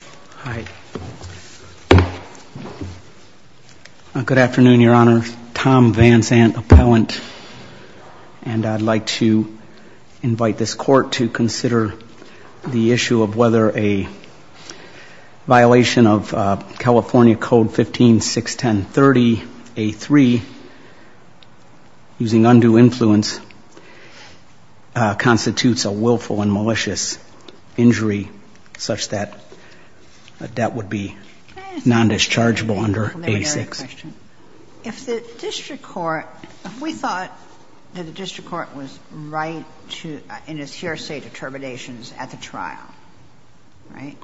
Hi. Good afternoon, Your Honor. Tom Van Zandt, appellant, and I'd like to invite this court to consider the issue of whether a violation of California Code 15-610-30A3 using undue influence constitutes a willful and malicious injury such that a debt would be non-dischargeable under A-6. If the district court, if we thought that the district court was right in its hearsay determinations at the trial, right,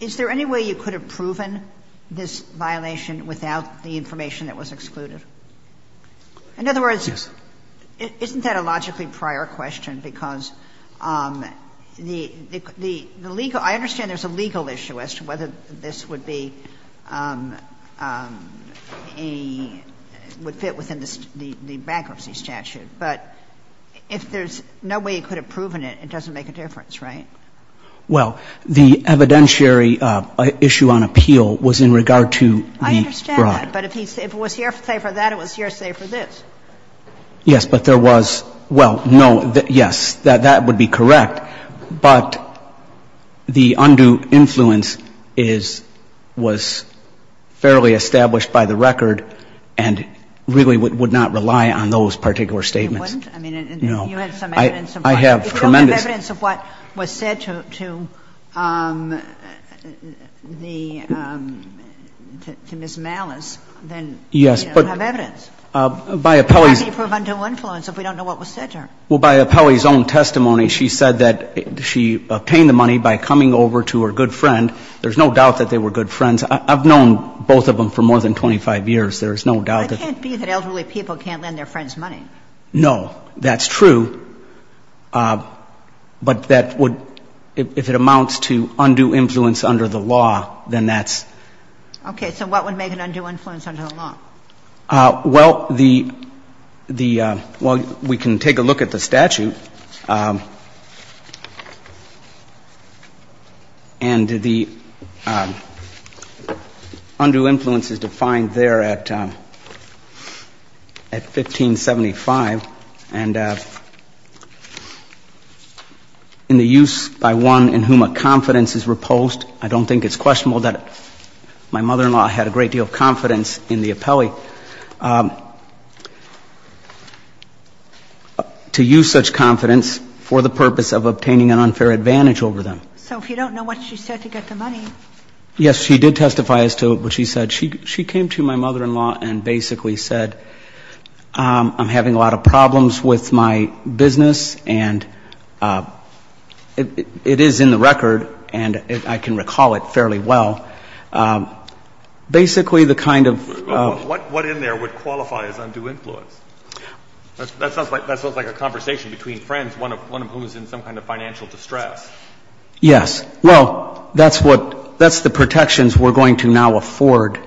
is there any way you could have proven this violation without the information that was excluded? In other words, isn't that a logically prior question, because the legal – I understand there's a legal issue as to whether this would be a – would fit within the bankruptcy statute, but if there's no way you could have proven it, it doesn't make a difference, right? Well, the evidentiary issue on appeal was in regard to the fraud. I understand that, but if it was hearsay for that, it was hearsay for this. Yes, but there was – well, no, yes, that would be correct, but the undue influence is – was fairly established by the record and really would not rely on those particular statements. It wouldn't? No. I mean, you had some evidence of what was said. I have tremendous – If we don't have evidence of what was said to the – to Ms. Malis, then we don't have evidence. Yes, but by Apelli's – How can you prove undue influence if we don't know what was said to her? Well, by Apelli's own testimony, she said that she obtained the money by coming over to her good friend. There's no doubt that they were good friends. I've known both of them for more than 25 years. There's no doubt that they were good friends. It can't be that elderly people can't lend their friends money. No, that's true. But that would – if it amounts to undue influence under the law, then that's Okay. So what would make an undue influence under the law? Well, the – well, we can take a look at the statute, and the undue influence is defined there at – at 1575, and in the use by one in whom a confidence is reposed, I don't think it's questionable that my mother-in-law had a great deal of confidence in the Apelli to use such confidence for the purpose of obtaining an unfair advantage over them. So if you don't know what she said to get the money – Yes, she did testify as to what she said. She came to my mother-in-law and basically said, I'm having a lot of problems with my business, and it is in the record, and I can recall it fairly well. Basically the kind of – What in there would qualify as undue influence? That sounds like a conversation between friends, one of whom is in some kind of financial distress. Yes. Well, that's what – that's the protections we're going to now afford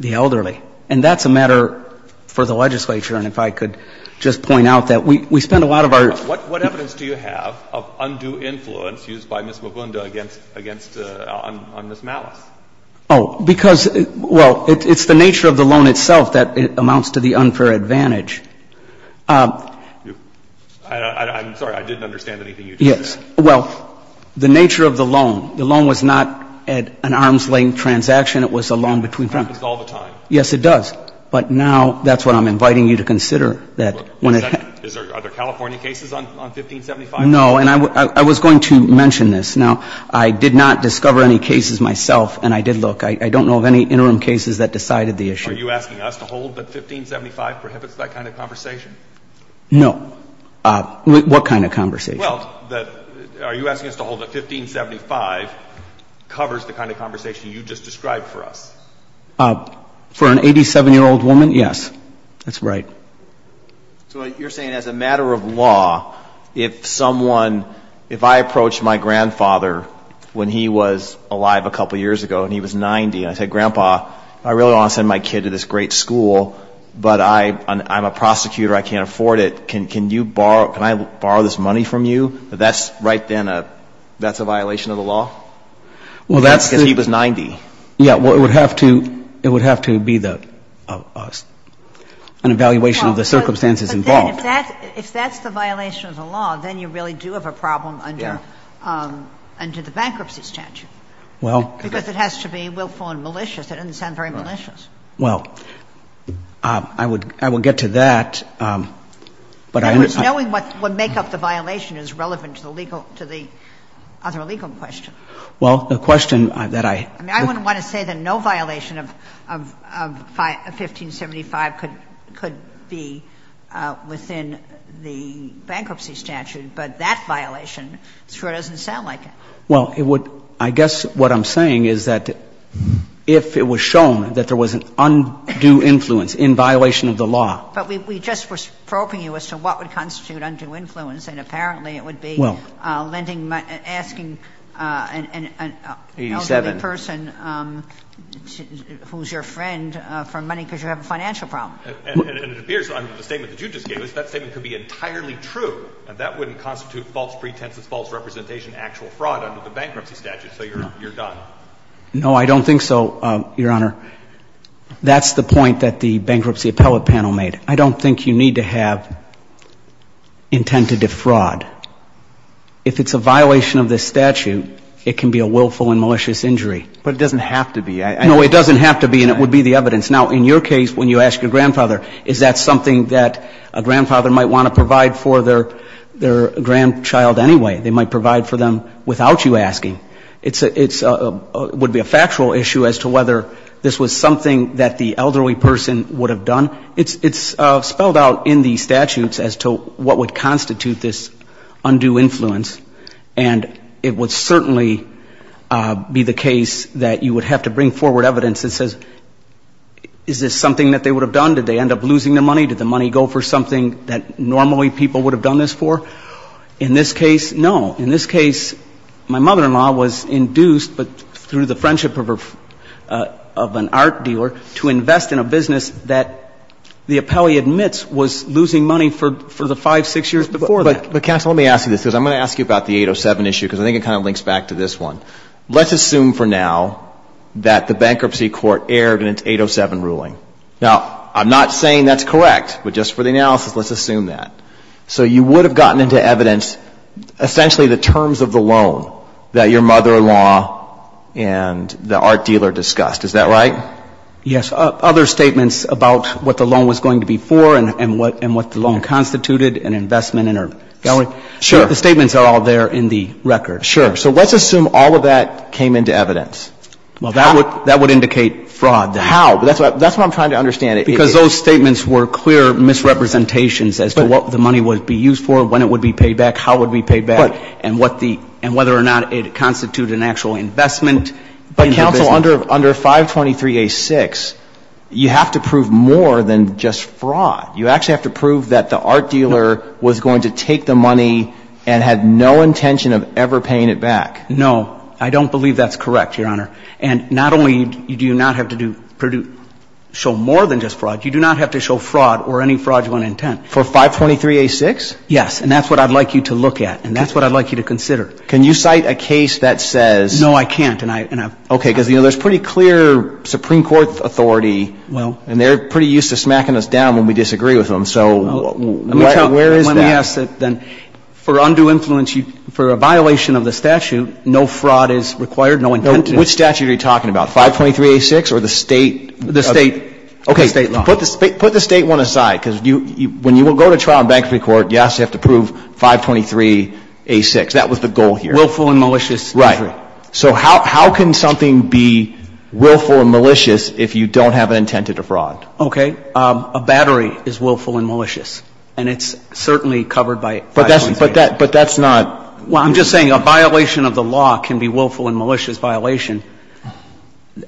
the elderly. And that's a matter for the legislature, and if I could just point out that we spend a lot of our – What evidence do you have of undue influence used by Ms. Mogundo against – on Ms. Malice? Oh, because – well, it's the nature of the loan itself that amounts to the unfair I'm sorry. I didn't understand anything you just said. Yes. Well, the nature of the loan, the loan was not an arm's-length transaction. It was a loan between friends. It happens all the time. Yes, it does. But now that's what I'm inviting you to consider, that when it happens – Is there – are there California cases on 1575? No. And I was going to mention this. Now, I did not discover any cases myself, and I did look. I don't know of any interim cases that decided the issue. Are you asking us to hold that 1575 prohibits that kind of conversation? No. What kind of conversation? Well, that – are you asking us to hold that 1575 covers the kind of conversation you just described for us? For an 87-year-old woman, yes. That's right. So you're saying as a matter of law, if someone – if I approach my grandfather when he was alive a couple years ago, and he was 90, and I said, Grandpa, I really want to send my kid to this great school, but I'm a prosecutor, I can't afford it. Can you borrow – can I borrow this money from you? That's right then a – that's a violation of the law? Well, that's the – Because he was 90. Yeah. Well, it would have to – it would have to be the – an evaluation of the circumstances involved. But then if that's – if that's the violation of the law, then you really do have a problem under – Yeah. Under the bankruptcy statute. Well – Because it has to be willful and malicious. It doesn't sound very malicious. Right. Well, I would – I would get to that, but I – In other words, knowing what make up the violation is relevant to the legal – to the other legal question. Well, the question that I – I mean, I wouldn't want to say that no violation of – of – of 1575 could – could be within the bankruptcy statute, but that violation sure doesn't sound like it. Well, it would – I guess what I'm saying is that if it was shown that there was an undue influence in violation of the law – But we just were probing you as to what would constitute undue influence, and apparently it would be – Well – Lending – asking an elderly person who's your friend for money because you have a financial problem. And it appears on the statement that you just gave us, that statement could be entirely true. And that wouldn't constitute false pretenses, false representation, actual fraud under the bankruptcy statute. So you're – you're done. No. No, I don't think so, Your Honor. That's the point that the bankruptcy appellate panel made. I don't think you need to have intent to defraud. If it's a violation of this statute, it can be a willful and malicious injury. But it doesn't have to be. I – No, it doesn't have to be, and it would be the evidence. Now, in your case, when you ask your grandfather, is that something that a grandfather might want to provide for their – their grandchild anyway? They might provide for them without you asking. It's a – it's a – would be a factual issue as to whether this was something that the elderly person would have done. It's spelled out in the statutes as to what would constitute this undue influence, and it would certainly be the case that you would have to bring forward evidence that says, is this something that they would have done? Did they end up losing their money? Did the money go for something that normally people would have done this for? In this case, no. In this case, my mother-in-law was induced, but through the friendship of her – of an art dealer, to invest in a business that the appellee admits was losing money for the five, six years before that. But, counsel, let me ask you this, because I'm going to ask you about the 807 issue, because I think it kind of links back to this one. Let's assume for now that the bankruptcy court erred in its 807 ruling. Now, I'm not saying that's correct, but just for the analysis, let's assume that. So you would have gotten into evidence essentially the terms of the loan that your mother-in-law and the art dealer discussed. Is that right? Yes. Other statements about what the loan was going to be for and what the loan constituted and investment in her gallery, the statements are all there in the record. Sure. So let's assume all of that came into evidence. That would indicate fraud. How? That's what I'm trying to understand. Because those statements were clear misrepresentations as to what the money would be used for, when it would be paid back, how it would be paid back, and what the – and whether or not it constituted an actual investment in the business. But, counsel, under 523A6, you have to prove more than just fraud. You actually have to prove that the art dealer was going to take the money and had no intention of ever paying it back. No. I don't believe that's correct, Your Honor. And not only do you not have to do – show more than just fraud, you do not have to show fraud or any fraudulent intent. For 523A6? Yes. And that's what I'd like you to look at and that's what I'd like you to consider. Can you cite a case that says – No, I can't. And I – Okay. Because, you know, there's pretty clear Supreme Court authority and they're pretty used to smacking us down when we disagree with them. So where is that? Let me tell you. When we ask that then, for undue influence, for a violation of the statute, no fraud is required, no intent to. Which statute are you talking about, 523A6 or the state? The state. Okay. The state law. Put the state one aside because when you go to trial in bankruptcy court, yes, you have to prove 523A6. That was the goal here. Willful and malicious. Right. So how can something be willful and malicious if you don't have an intent to defraud? Okay. A battery is willful and malicious. And it's certainly covered by 523A6. But that's not – Well, I'm just saying a violation of the law can be willful and malicious violation.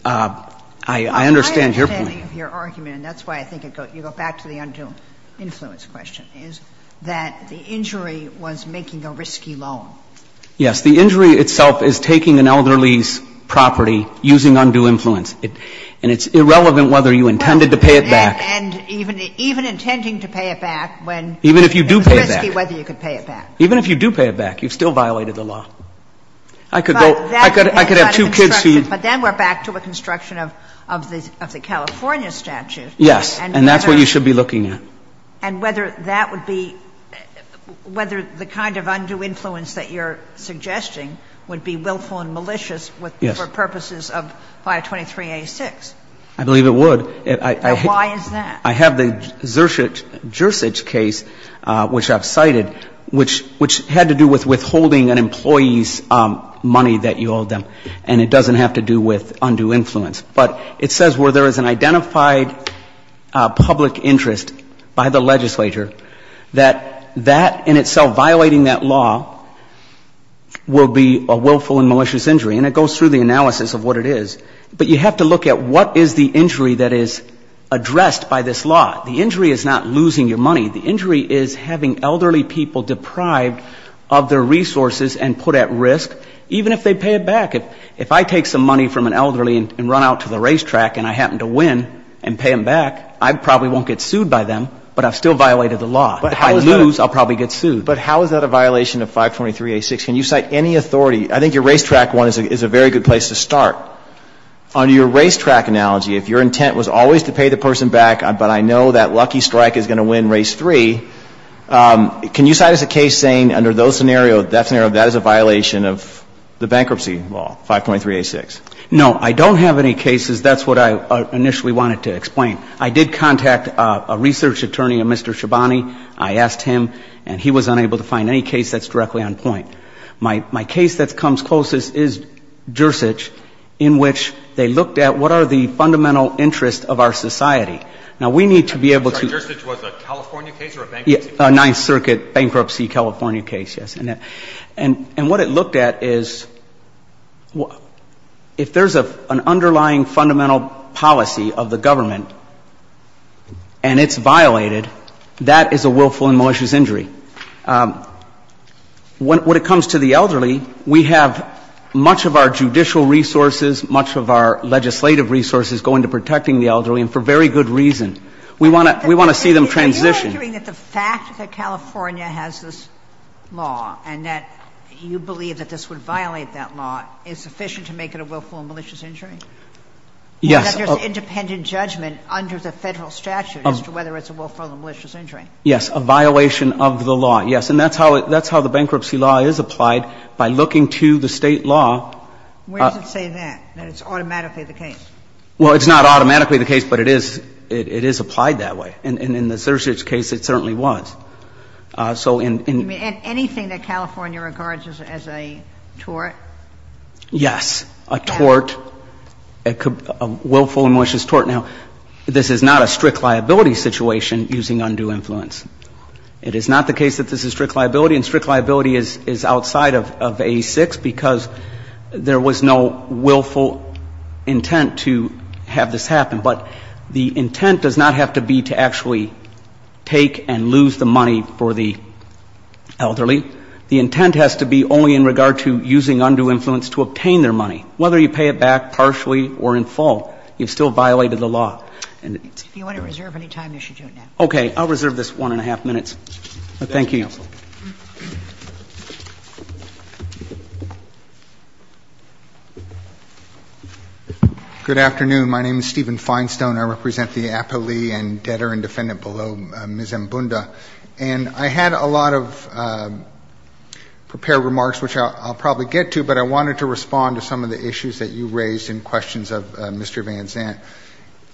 I understand your point. My understanding of your argument, and that's why I think you go back to the undue influence question, is that the injury was making a risky loan. Yes. The injury itself is taking an elderly's property, using undue influence. And it's irrelevant whether you intended to pay it back. And even intending to pay it back when it was risky, whether you could pay it back. Even if you do pay it back. You've still violated the law. I could go – I could have two kids for you. But then we're back to a construction of the California statute. Yes. And that's what you should be looking at. And whether that would be – whether the kind of undue influence that you're suggesting would be willful and malicious for purposes of 523A6. I believe it would. Why is that? I have the Jersich case, which I've cited, which had to do with withholding an employee's money that you owed them. And it doesn't have to do with undue influence. But it says where there is an identified public interest by the legislature, that that in itself, violating that law, will be a willful and malicious injury. And it goes through the analysis of what it is. But you have to look at what is the injury that is addressed by this law. The injury is not losing your money. The injury is having elderly people deprived of their resources and put at risk, even if they pay it back. If I take some money from an elderly and run out to the racetrack and I happen to win and pay them back, I probably won't get sued by them. But I've still violated the law. If I lose, I'll probably get sued. But how is that a violation of 523A6? Can you cite any authority? I think your racetrack one is a very good place to start. Under your racetrack analogy, if your intent was always to pay the person back, but I know that lucky strike is going to win race three, can you cite as a case saying under those scenarios, that scenario, that is a violation of the bankruptcy law, 523A6? No. I don't have any cases. That's what I initially wanted to explain. I did contact a research attorney, a Mr. Shabani. My case that comes closest is Jersich in which they looked at what are the fundamental interests of our society. Now, we need to be able to Sorry, Jersich was a California case or a bankruptcy case? A Ninth Circuit bankruptcy California case, yes. And what it looked at is if there's an underlying fundamental policy of the government and it's violated, that is a willful and malicious injury. When it comes to the elderly, we have much of our judicial resources, much of our legislative resources go into protecting the elderly, and for very good reason. We want to see them transition. Are you arguing that the fact that California has this law and that you believe that this would violate that law is sufficient to make it a willful and malicious injury? Yes. Or that there's independent judgment under the Federal statute as to whether it's a willful or malicious injury? Yes, a violation of the law, yes. And that's how the bankruptcy law is applied, by looking to the State law. Where does it say that, that it's automatically the case? Well, it's not automatically the case, but it is applied that way. And in the Jersich case, it certainly was. So in You mean anything that California regards as a tort? Yes, a tort, a willful and malicious tort. Now, this is not a strict liability situation using undue influence. It is not the case that this is strict liability, and strict liability is outside of A6, because there was no willful intent to have this happen. But the intent does not have to be to actually take and lose the money for the elderly. The intent has to be only in regard to using undue influence to obtain their money. Whether you pay it back partially or in full, you've still violated the law. And it's If you want to reserve any time, you should do it now. Okay. I'll reserve this 1-1⁄2 minutes. Thank you. Good afternoon. My name is Stephen Finestone. I represent the appellee and debtor and defendant below Ms. Mbunda. And I had a lot of prepared remarks, which I'll probably get to, but I wanted to respond to some of the issues that you raised in questions of Mr. Van Zandt.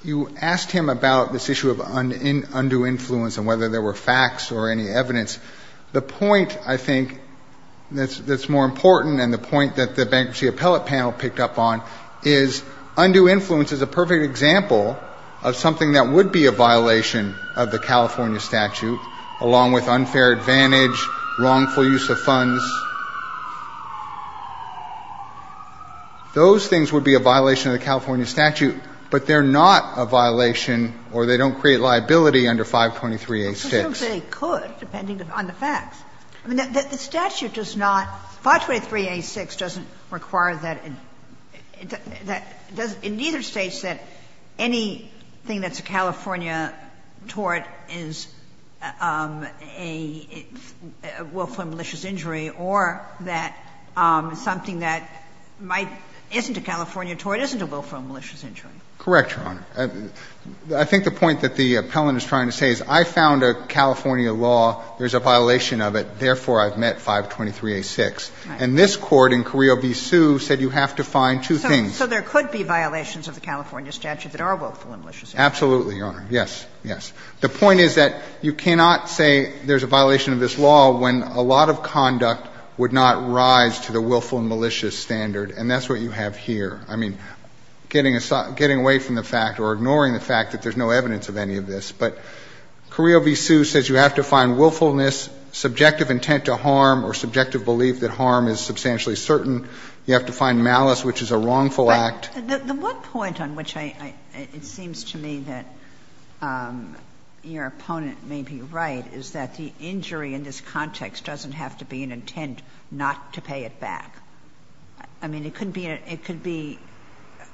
You asked him about this issue of undue influence and whether there were facts or any evidence. The point, I think, that's more important and the point that the Bankruptcy Appellate Panel picked up on is undue influence is a perfect example of something that would be a violation of the California statute, along with unfair advantage, wrongful use of funds. Those things would be a violation of the California statute, but they're not a violation or they don't create liability under 523-86. But presumably they could, depending on the facts. I mean, the statute does not — 523-86 doesn't require that — it doesn't — it neither states that anything that's a California tort is a willful or malicious injury or that something that might — isn't a California tort isn't a willful or malicious injury. Correct, Your Honor. I think the point that the appellant is trying to say is I found a California law, there's a violation of it, therefore I've met 523-86. And this Court in Carrillo v. Sue said you have to find two things. So there could be violations of the California statute that are willful and malicious injuries. Absolutely, Your Honor. Yes. Yes. The point is that you cannot say there's a violation of this law when a lot of conduct would not rise to the willful and malicious standard, and that's what you have here. I mean, getting away from the fact or ignoring the fact that there's no evidence of any of this, but Carrillo v. Sue says you have to find willfulness, subjective intent to harm or subjective belief that harm is substantially certain. You have to find malice, which is a wrongful act. But the one point on which I — it seems to me that your opponent may be right is that the injury in this context doesn't have to be an intent not to pay it back. I mean, it could be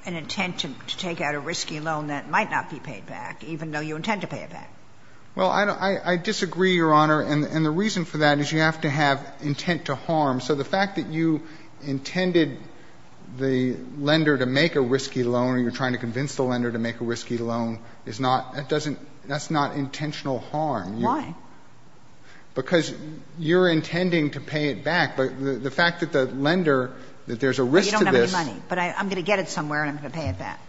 an intent to take out a risky loan that might not be paid back, even though you intend to pay it back. Well, I disagree, Your Honor, and the reason for that is you have to have intent to harm. So the fact that you intended the lender to make a risky loan and you're trying to convince the lender to make a risky loan is not — that doesn't — that's not intentional harm. Why? Because you're intending to pay it back. But the fact that the lender, that there's a risk to this — Well, you don't have any money, but I'm going to get it somewhere and I'm going to pay it back.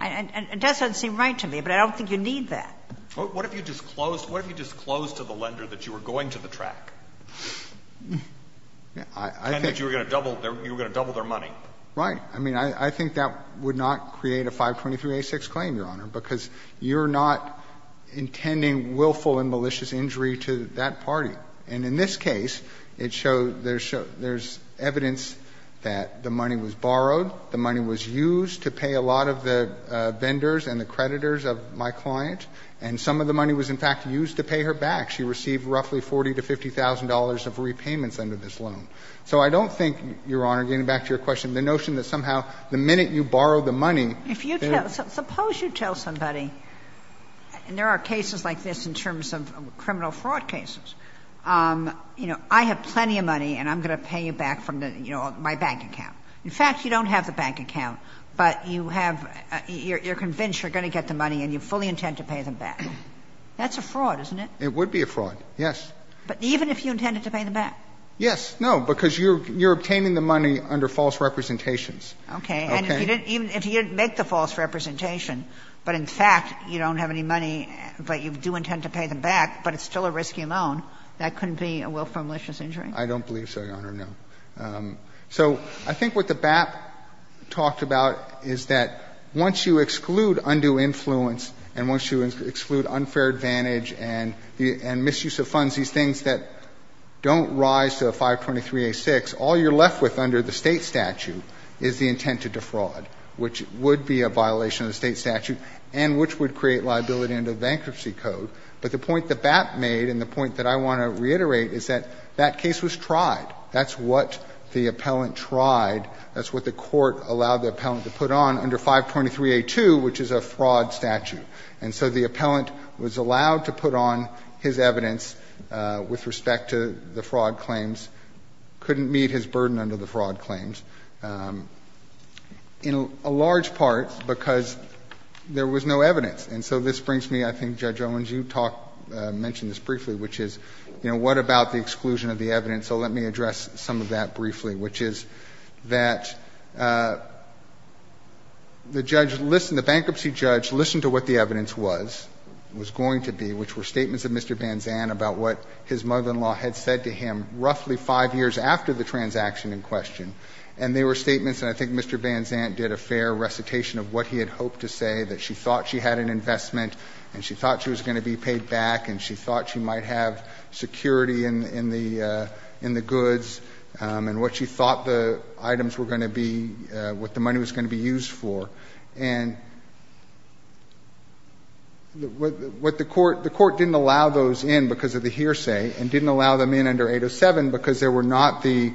And that doesn't seem right to me, but I don't think you need that. What if you disclosed — what if you disclosed to the lender that you were going to the track, and that you were going to double their — you were going to double their money? Right. I mean, I think that would not create a 523-A6 claim, Your Honor, because you're not intending willful and malicious injury to that party. And in this case, it showed — there's evidence that the money was borrowed, the money was used to pay a lot of the vendors and the creditors of my client, and some of the money was, in fact, used to pay her back. She received roughly $40,000 to $50,000 of repayments under this loan. So I don't think, Your Honor, getting back to your question, the notion that somehow the minute you borrow the money, there's — If you tell — suppose you tell somebody — and there are cases like this in terms of criminal fraud cases — you know, I have plenty of money and I'm going to pay you back from the — you know, my bank account. In fact, you don't have the bank account, but you have — you're convinced you're going to get the money and you fully intend to pay them back. That's a fraud, isn't it? It would be a fraud, yes. But even if you intended to pay them back? Yes. No, because you're obtaining the money under false representations. Okay. And if you didn't — even if you didn't make the false representation, but in fact you don't have any money, but you do intend to pay them back, but it's still a risky loan, that couldn't be a willful and malicious injury? I don't believe so, Your Honor, no. So I think what the BAP talked about is that once you exclude undue influence and once you exclude unfair advantage and misuse of funds, these things that don't rise to a 523A6, all you're left with under the State statute is the intent to defraud, which would be a violation of the State statute and which would create liability under the Bankruptcy Code. But the point the BAP made, and the point that I want to reiterate, is that that is what the appellant tried. That's what the Court allowed the appellant to put on under 523A2, which is a fraud statute. And so the appellant was allowed to put on his evidence with respect to the fraud claims, couldn't meet his burden under the fraud claims, in a large part because there was no evidence. And so this brings me, I think, Judge Owens, you talked — mentioned this briefly, which is, you know, what about the exclusion of the evidence? And so let me address some of that briefly, which is that the judge — the bankruptcy judge listened to what the evidence was, was going to be, which were statements of Mr. Banzan about what his mother-in-law had said to him roughly five years after the transaction in question. And they were statements, and I think Mr. Banzan did a fair recitation of what he had hoped to say, that she thought she had an investment and she thought she was going to be paid back, and she thought she might have security in the — in the goods, and what she thought the items were going to be, what the money was going to be used for. And what the Court — the Court didn't allow those in because of the hearsay, and didn't allow them in under 807 because there were not the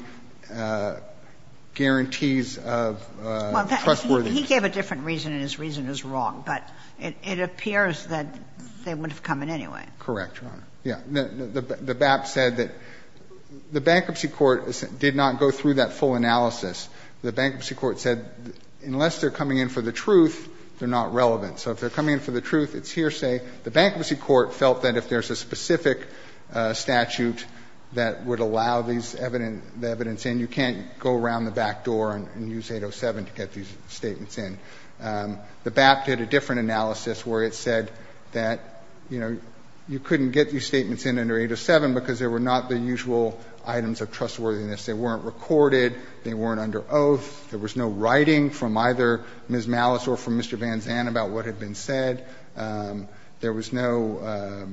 guarantees of trustworthiness. Well, he gave a different reason, and his reason is wrong, but it appears that they wouldn't have come in anyway. Correct, Your Honor. Yeah. The BAP said that — the Bankruptcy Court did not go through that full analysis. The Bankruptcy Court said unless they're coming in for the truth, they're not relevant. So if they're coming in for the truth, it's hearsay. The Bankruptcy Court felt that if there's a specific statute that would allow these evidence in, you can't go around the back door and use 807 to get these statements in. The BAP did a different analysis where it said that, you know, you couldn't get these statements in under 807 because there were not the usual items of trustworthiness. They weren't recorded. They weren't under oath. There was no writing from either Ms. Malice or from Mr. Van Zandt about what had been said. There was no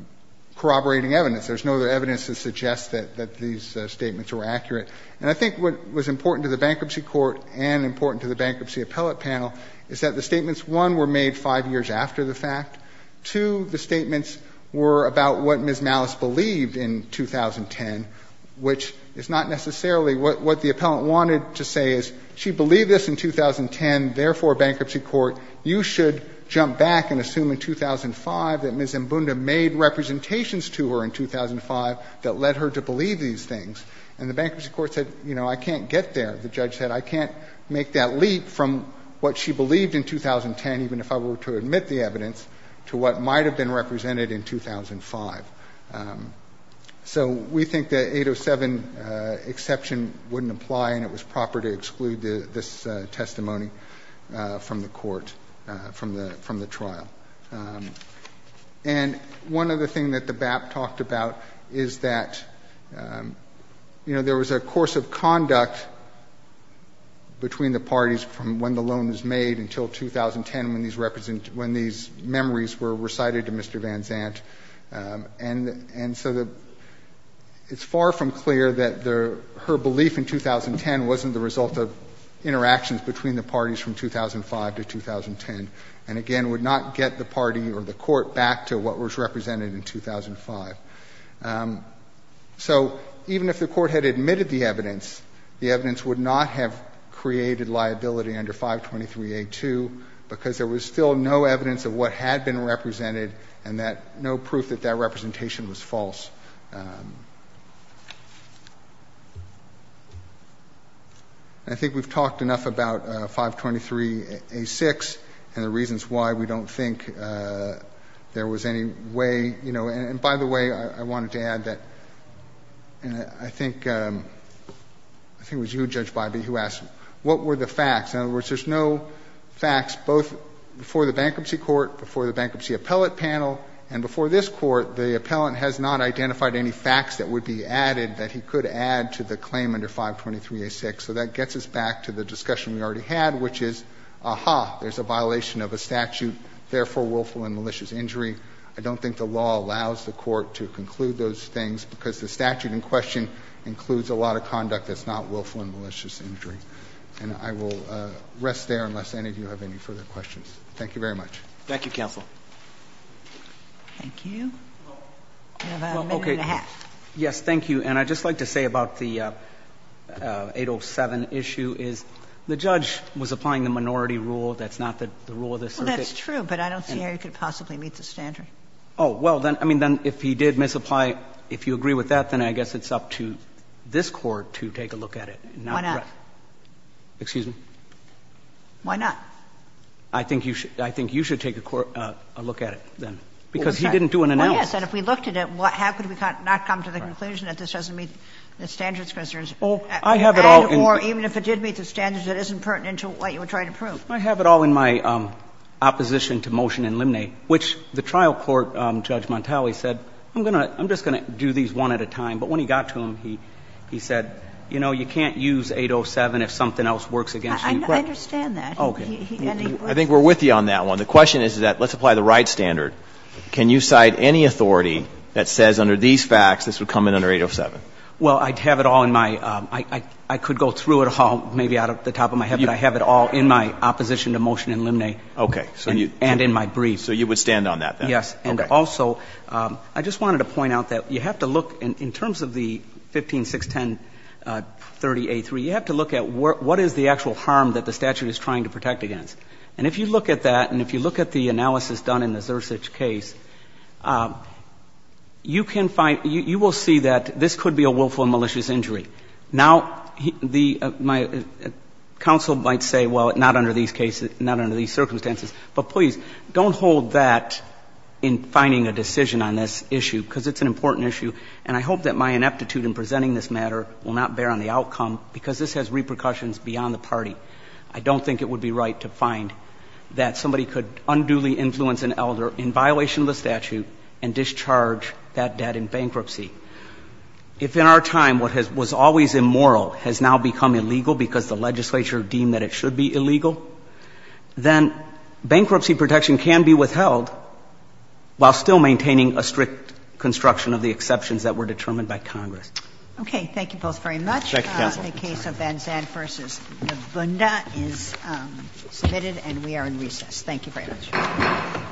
corroborating evidence. There's no other evidence to suggest that — that these statements were accurate. And I think what was important to the Bankruptcy Court and important to the Bankruptcy Court's appellate panel is that the statements, one, were made five years after the fact. Two, the statements were about what Ms. Malice believed in 2010, which is not necessarily what the appellant wanted to say is she believed this in 2010, therefore, Bankruptcy Court, you should jump back and assume in 2005 that Ms. Mbunda made representations to her in 2005 that led her to believe these things. And the Bankruptcy Court said, you know, I can't get there. The judge said I can't make that leap from what she believed in 2010, even if I were to admit the evidence, to what might have been represented in 2005. So we think the 807 exception wouldn't apply and it was proper to exclude this testimony from the court, from the trial. And one other thing that the BAP talked about is that, you know, there was a course of conduct between the parties from when the loan was made until 2010 when these represent — when these memories were recited to Mr. Van Zandt. And so it's far from clear that her belief in 2010 wasn't the result of interactions between the parties from 2005 to 2010 and, again, would not get the party or the court back to what was represented in 2005. So even if the court had admitted the evidence, the evidence would not have created liability under 523A2 because there was still no evidence of what had been represented and that — no proof that that representation was false. I think we've talked enough about 523A6 and the reasons why we don't think there was any way — you know, and by the way, I wanted to add that I think — I think it was you, Judge Bybee, who asked what were the facts. In other words, there's no facts both before the bankruptcy court, before the bankruptcy appellate panel, and before this Court, the appellant has not identified any facts that would be added that he could add to the claim under 523A6. So that gets us back to the discussion we already had, which is, aha, there's a violation of a statute, therefore willful and malicious injury. I don't think the law allows the Court to conclude those things because the statute in question includes a lot of conduct that's not willful and malicious injury. And I will rest there unless any of you have any further questions. Thank you very much. Thank you, counsel. Thank you. You have a minute and a half. Yes, thank you. And I'd just like to say about the 807 issue is the judge was applying the minority rule, that's not the rule of the circuit. Well, that's true, but I don't see how you could possibly meet the standard. Oh, well, then, I mean, then if he did misapply, if you agree with that, then I guess it's up to this Court to take a look at it. Why not? Excuse me? Why not? I think you should take a look at it, then. Because he didn't do an analysis. Well, yes. And if we looked at it, how could we not come to the conclusion that this doesn't meet the standards, because there's an ad or even if it did meet the standards, it isn't pertinent to what you were trying to prove. I have it all in my opposition to motion in Limney, which the trial court, Judge Montali, said, I'm just going to do these one at a time. But when he got to them, he said, you know, you can't use 807 if something else works against you. I understand that. Okay. I think we're with you on that one. The question is that let's apply the right standard. Can you cite any authority that says under these facts this would come in under 807? Well, I'd have it all in my – I could go through it all, maybe out of the top of my head, but I have it all in my opposition to motion in Limney. Okay. And in my brief. So you would stand on that, then? Yes. Okay. And also, I just wanted to point out that you have to look, in terms of the 1561030a3, you have to look at what is the actual harm that the statute is trying to protect against. And if you look at that and if you look at the analysis done in the Zersich case, you can find – you will see that this could be a willful and malicious injury. Now, the – my counsel might say, well, not under these cases, not under these circumstances. But please, don't hold that in finding a decision on this issue, because it's an important issue. And I hope that my ineptitude in presenting this matter will not bear on the outcome, because this has repercussions beyond the party. I don't think it would be right to find that somebody could unduly influence an elder in violation of the statute and discharge that debt in bankruptcy. If in our time what has – was always immoral has now become illegal because the legislature deemed that it should be illegal, then bankruptcy protection can be withheld while still maintaining a strict construction of the exceptions that were determined by Congress. Okay. Thank you both very much. Thank you, counsel. The case of Van Zandt v. Navunda is submitted and we are in recess. Thank you very much. All rise.